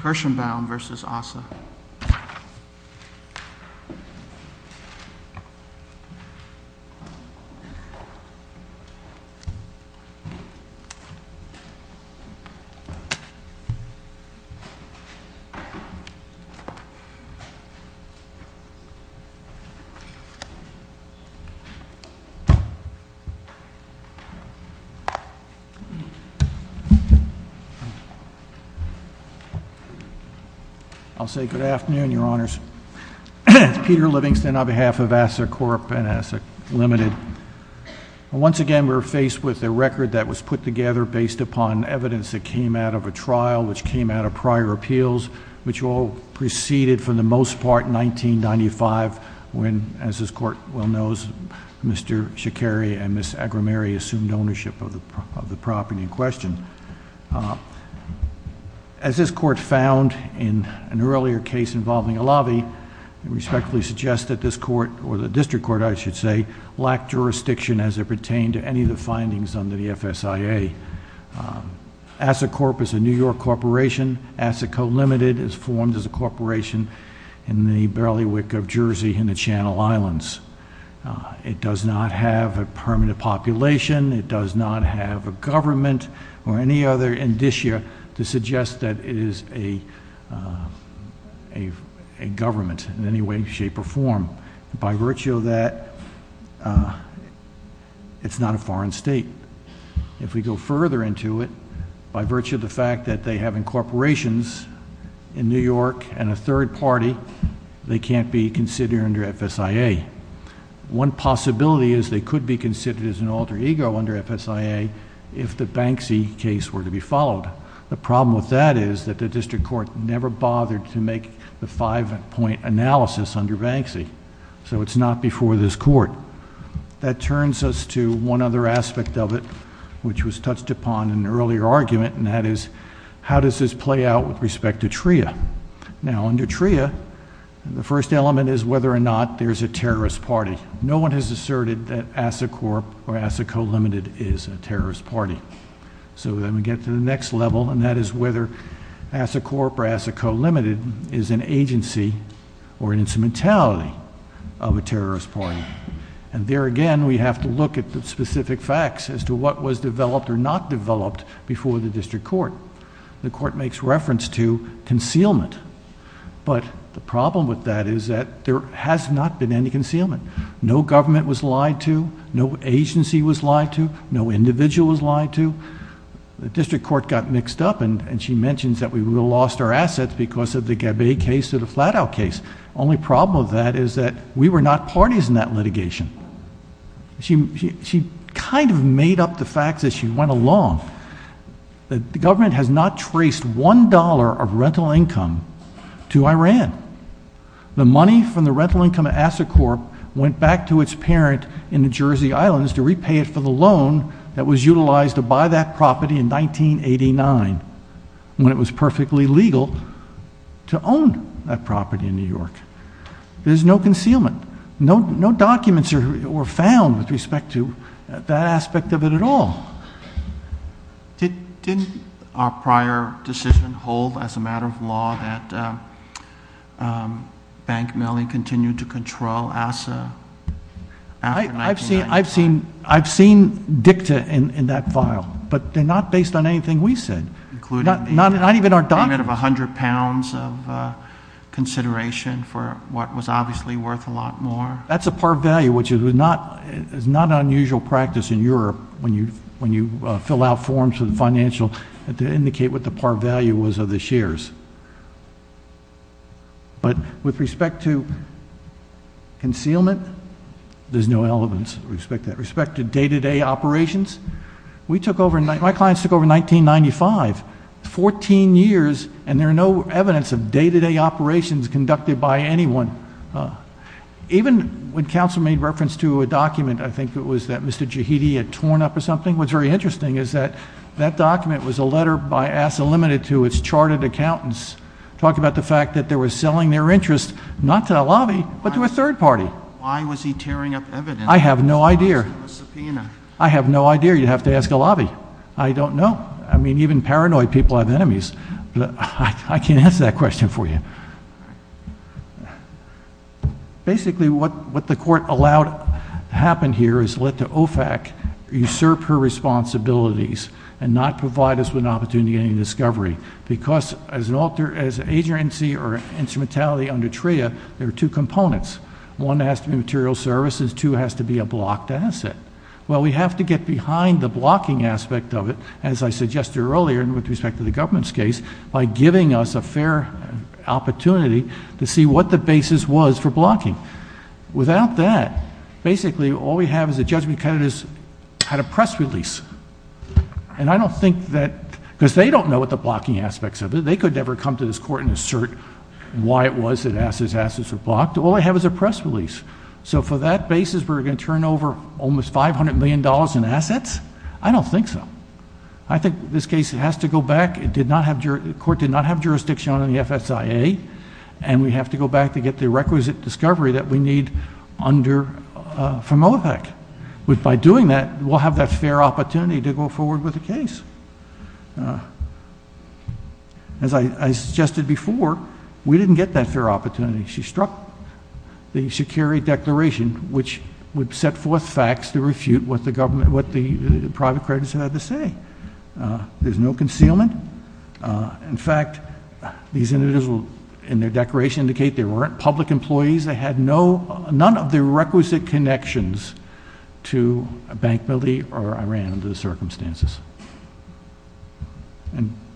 Kirschenbaum v. ASSA I'll say good afternoon, your honors. It's Peter Livingston on behalf of ASSA Corp. and ASSA Limited. Once again, we're faced with a record that was put together based upon evidence that came out of a trial, which came out of prior appeals, which all preceded, for the most part, 1995, when, as this court well knows, Mr. Shikari and Ms. Agrameri assumed ownership of the property in question. As this court found in an earlier case involving a lobby, it respectfully suggests that this court, or the district court I should say, lacked jurisdiction as it pertained to any of the findings under the FSIA. ASSA Corp. is a New York corporation. ASSA Co. Limited is formed as a corporation in the Bailiwick of Jersey in the Channel Islands. It does not have a permanent population. It does not have a government or any other indicia to suggest that it is a government in any way, shape, or form. By virtue of that, it's not a foreign state. If we go further into it, by virtue of the fact that they have incorporations in New York and a third party, they can't be considered under FSIA. One possibility is they could be considered as an alter ego under FSIA if the Banksy case were to be followed. The problem with that is that the district court never bothered to make the five-point analysis under Banksy, so it's not before this court. That turns us to one other aspect of it, which was touched upon in an earlier argument, and that is how does this play out with respect to TRIA. Now under TRIA, the first element is whether or not there's a terrorist party. No one has asserted that ASSA Corp. or ASSA Co. Limited is a terrorist party. Then we get to the next level, and that is whether ASSA Corp. or ASSA Co. Limited is an agency or an instrumentality of a terrorist party. There again, we have to look at the specific facts as to what was developed or not developed before the district court. The court makes reference to concealment, but the problem with that is that there has not been any concealment. No government was lied to, no agency was lied to, no individual was lied to. The district court got mixed up, and she mentions that we lost our assets because of the Gabay case or the Flat Out case. The only problem with that is that we were not parties in that litigation. She kind of made up the facts as she went along. The government has not traced one dollar of rental income to Iran. The money from the rental income of ASSA Corp. went back to its parent in the Jersey Islands to repay it for the loan that was utilized to buy that property in 1989 when it was perfectly legal to own that property in New York. There's no concealment. No documents were found with respect to that aspect of it at all. Didn't our prior decision hold as a matter of law that bank mailing continued to control ASSA after 1999? I've seen dicta in that file, but they're not based on anything we said, not even our documents. Including the payment of 100 pounds of consideration for what was obviously worth a lot more? That's a par value, which is not an unusual practice in Europe when you fill out forms for the financial to indicate what the par value was of the shares. But with respect to concealment, there's no evidence with respect to that. With respect to day-to-day operations, my clients took over in 1995. 14 years, and there's no evidence of day-to-day operations conducted by anyone. Even when counsel made reference to a document, I think it was that Mr. Jahidi had torn up or something, what's very interesting is that that document was a letter by ASSA Limited to its charted accountants talking about the fact that they were selling their interest not to a lobby, but to a third party. Why was he tearing up evidence? I have no idea. Why was it a subpoena? I have no idea. You'd have to ask a lobby. I don't know. I mean, even paranoid people have enemies. I can't answer that question for you. Basically, what the court allowed to happen here is let the OFAC usurp her responsibilities and not provide us with an opportunity of discovery, because as an agency or instrumentality under TRIA, there are two components. One has to be material services. Two has to be a blocked asset. Well, we have to get behind the blocking aspect of it, as I suggested earlier, and with respect to the government's case, by giving us a fair opportunity to see what the basis was for blocking. Without that, basically, all we have is the Judgment of Candidates had a press release. And I don't think that, because they don't know what the blocking aspects of it, they could never come to this court and assert why it was that ASSA's assets were blocked. All they have is a press release. So for that basis, we're going to turn over almost $500 million in assets? I don't think so. I think this case has to go back. The court did not have jurisdiction on the FSIA, and we have to go back to get the requisite discovery that we need from OFAC. By doing that, we'll have that fair opportunity to go forward with the case. As I suggested before, we didn't get that fair opportunity. She struck the Shikari Declaration, which would set forth facts to refute what the private creditors had to say. There's no concealment. In fact, these individuals in their declaration indicate there weren't public employees. They had none of the requisite connections to a bank building or Iran under the circumstances.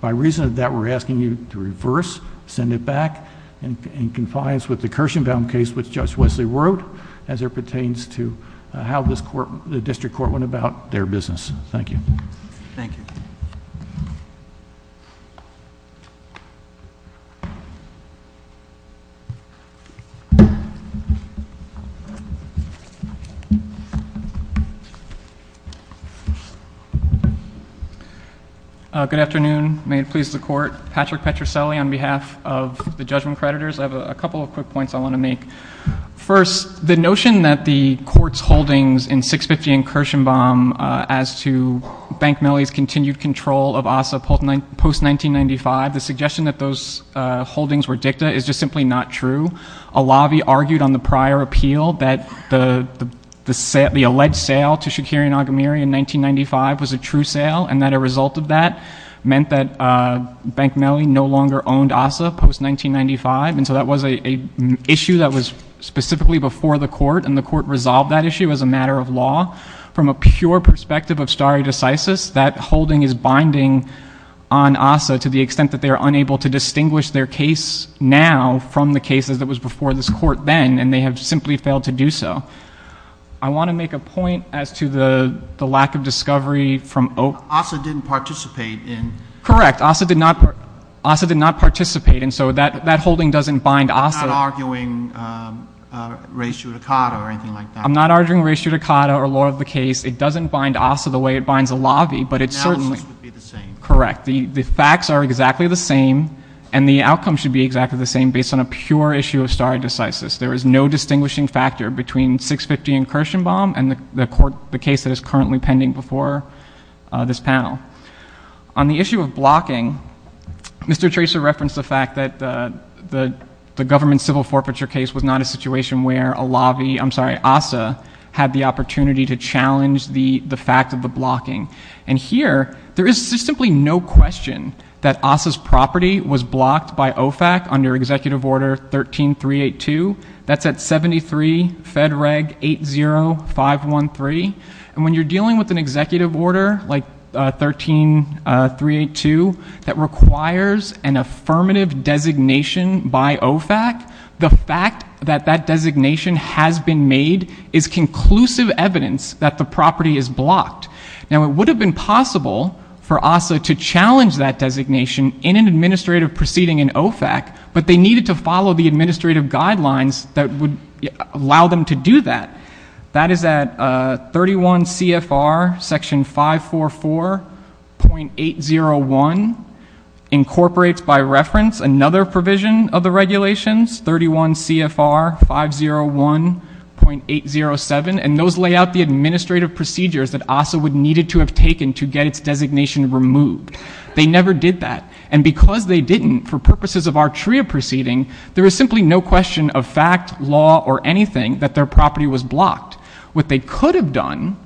By reason of that, we're asking you to reverse, send it back, and confine us with the Kirshenbaum case, which Judge Wesley wrote, as it pertains to how the district court went about their business. Thank you. Thank you. Good afternoon. May it please the Court. Patrick Petruscelli on behalf of the judgment creditors. I have a couple of quick points I want to make. First, the notion that the Court's holdings in 650 and Kirshenbaum as to Bank Mellie's continued control of ASA post-1995, the suggestion that those holdings were dicta is just simply not true. A lobby argued on the prior appeal that the alleged sale to Shikari and Agamiri in 1995 was a true sale and that a result of that meant that Bank Mellie no longer owned ASA post-1995. And so that was an issue that was specifically before the Court, and the Court resolved that issue as a matter of law. From a pure perspective of stare decisis, that holding is binding on ASA to the extent that they are unable to distinguish their case now from the cases that was before this Court then, and they have simply failed to do so. I want to make a point as to the lack of discovery from Oak. ASA didn't participate in. Correct. ASA did not participate, and so that holding doesn't bind ASA. I'm not arguing res judicata or anything like that. I'm not arguing res judicata or law of the case. It doesn't bind ASA the way it binds a lobby, but it certainly — Analysis would be the same. Correct. The facts are exactly the same, and the outcome should be exactly the same based on a pure issue of stare decisis. There is no distinguishing factor between 650 and Kirshenbaum and the case that is currently pending before this panel. On the issue of blocking, Mr. Tracer referenced the fact that the government civil forfeiture case was not a situation where a lobby — I'm sorry, ASA had the opportunity to challenge the fact of the blocking. And here, there is simply no question that ASA's property was blocked by OFAC under Executive Order 13382. That's at 73 Fed Reg 80513. And when you're dealing with an executive order like 13382 that requires an affirmative designation by OFAC, the fact that that designation has been made is conclusive evidence that the property is blocked. Now, it would have been possible for ASA to challenge that designation in an administrative proceeding in OFAC, but they needed to follow the administrative guidelines that would allow them to do that. That is at 31 CFR Section 544.801 incorporates by reference another provision of the regulations, 31 CFR 501.807, and those lay out the administrative procedures that ASA would need to have taken to get its designation removed. They never did that. And because they didn't, for purposes of our TRIA proceeding, there is simply no question of fact, law, or anything that their property was blocked. What they could have done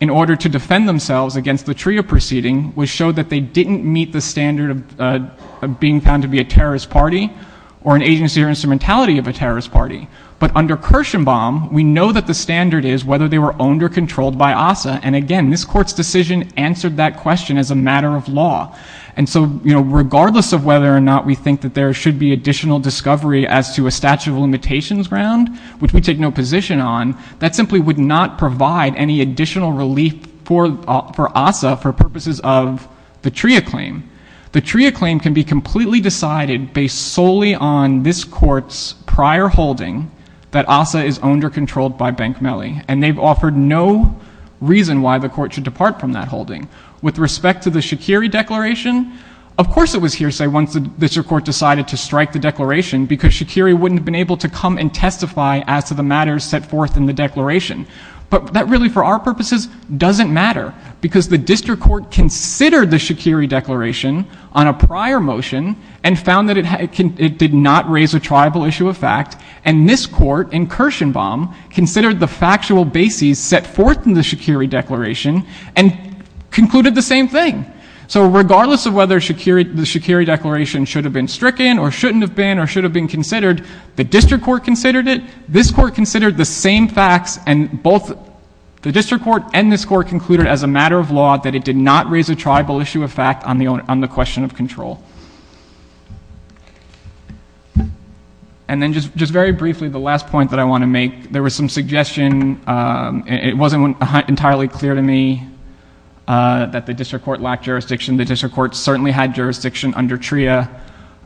in order to defend themselves against the TRIA proceeding was show that they didn't meet the standard of being found to be a terrorist party or an agency or instrumentality of a terrorist party. But under Kirshenbaum, we know that the standard is whether they were owned or controlled by ASA. And again, this Court's decision answered that question as a matter of law. And so, you know, regardless of whether or not we think that there should be additional discovery as to a statute of limitations ground, which we take no position on, that simply would not provide any additional relief for ASA for purposes of the TRIA claim. The TRIA claim can be completely decided based solely on this Court's prior holding that ASA is owned or controlled by Bank Mellie, and they've offered no reason why the Court should depart from that holding. With respect to the Shaqiri Declaration, of course it was hearsay once the District Court decided to strike the Declaration because Shaqiri wouldn't have been able to come and testify as to the matters set forth in the Declaration. But that really, for our purposes, doesn't matter because the District Court considered the Shaqiri Declaration on a prior motion and found that it did not raise a tribal issue of fact, and this Court in Kirshenbaum considered the factual bases set forth in the Shaqiri Declaration and concluded the same thing. So regardless of whether the Shaqiri Declaration should have been stricken or shouldn't have been or should have been considered, the District Court considered it, this Court considered the same facts, and both the District Court and this Court concluded as a matter of law that it did not raise a tribal issue of fact on the question of control. And then just very briefly, the last point that I want to make, there was some suggestion, and it wasn't entirely clear to me that the District Court lacked jurisdiction. The District Court certainly had jurisdiction under TRIA.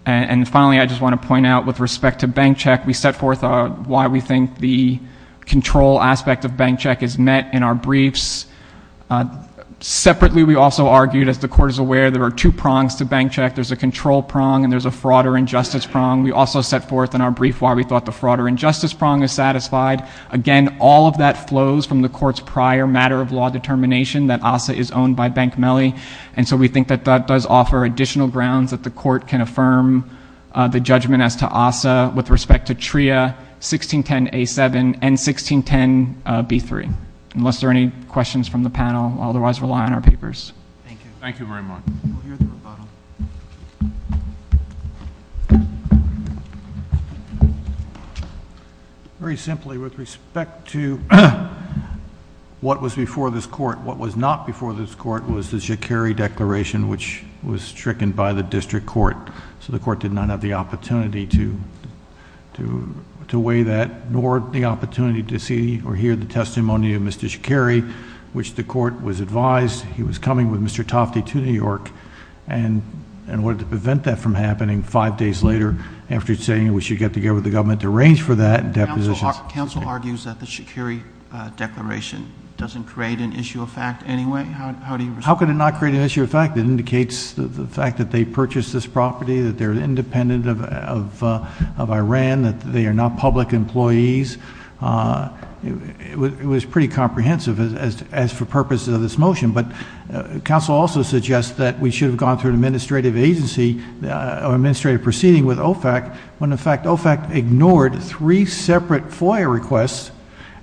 And finally, I just want to point out with respect to bank check, we set forth why we think the control aspect of bank check is met in our briefs. Separately, we also argued, as the Court is aware, there are two prongs to bank check. There's a control prong and there's a fraud or injustice prong. We also set forth in our brief why we thought the fraud or injustice prong is satisfied. Again, all of that flows from the Court's prior matter of law determination that ASSA is owned by Bank Mellie, and so we think that that does offer additional grounds that the Court can affirm the judgment as to ASSA with respect to TRIA, 1610A7, and 1610B3. Unless there are any questions from the panel, I'll otherwise rely on our papers. Thank you. Thank you very much. We'll hear the rebuttal. Very simply, with respect to what was before this Court, what was not before this Court was the Jacare declaration, which was stricken by the District Court. So the Court did not have the opportunity to weigh that, nor the opportunity to see or hear the testimony of Mr. Jacare, which the Court was advised he was coming with Mr. Tofte to New York in order to prevent that from happening five days later after saying we should get together with the government to arrange for that. Counsel argues that the Jacare declaration doesn't create an issue of fact anyway. How do you respond? How could it not create an issue of fact? It indicates the fact that they purchased this property, that they're independent of Iran, that they are not public employees. It was pretty comprehensive as for purposes of this motion, but counsel also suggests that we should have gone through an administrative agency or administrative proceeding with OFAC when, in fact, OFAC ignored three separate FOIA requests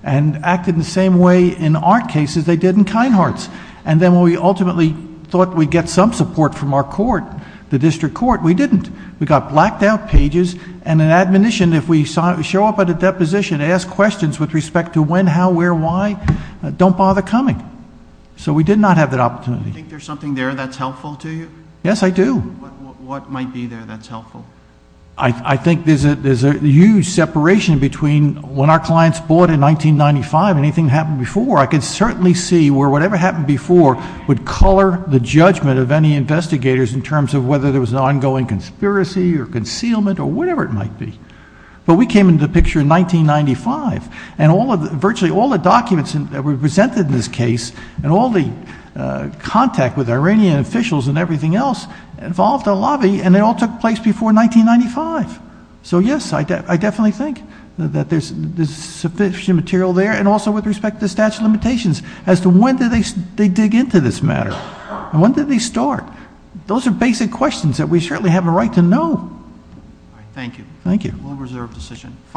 and acted the same way in our case as they did in Kinehart's. Then when we ultimately thought we'd get some support from our court, the District Court, we didn't. We got blacked out pages and an admonition if we show up at a deposition to ask questions with respect to when, how, where, why, don't bother coming. So we did not have that opportunity. Do you think there's something there that's helpful to you? Yes, I do. What might be there that's helpful? I think there's a huge separation between when our clients bought in 1995 and anything that happened before. I can certainly see where whatever happened before would color the judgment of any investigators in terms of whether there was an ongoing conspiracy or concealment or whatever it might be. But we came into the picture in 1995, and virtually all the documents that were presented in this case and all the contact with Iranian officials and everything else involved a lobby, and it all took place before 1995. So, yes, I definitely think that there's sufficient material there, and also with respect to the statute of limitations as to when did they dig into this matter and when did they start. Those are basic questions that we certainly have a right to know. Thank you. Thank you. A well-reserved decision.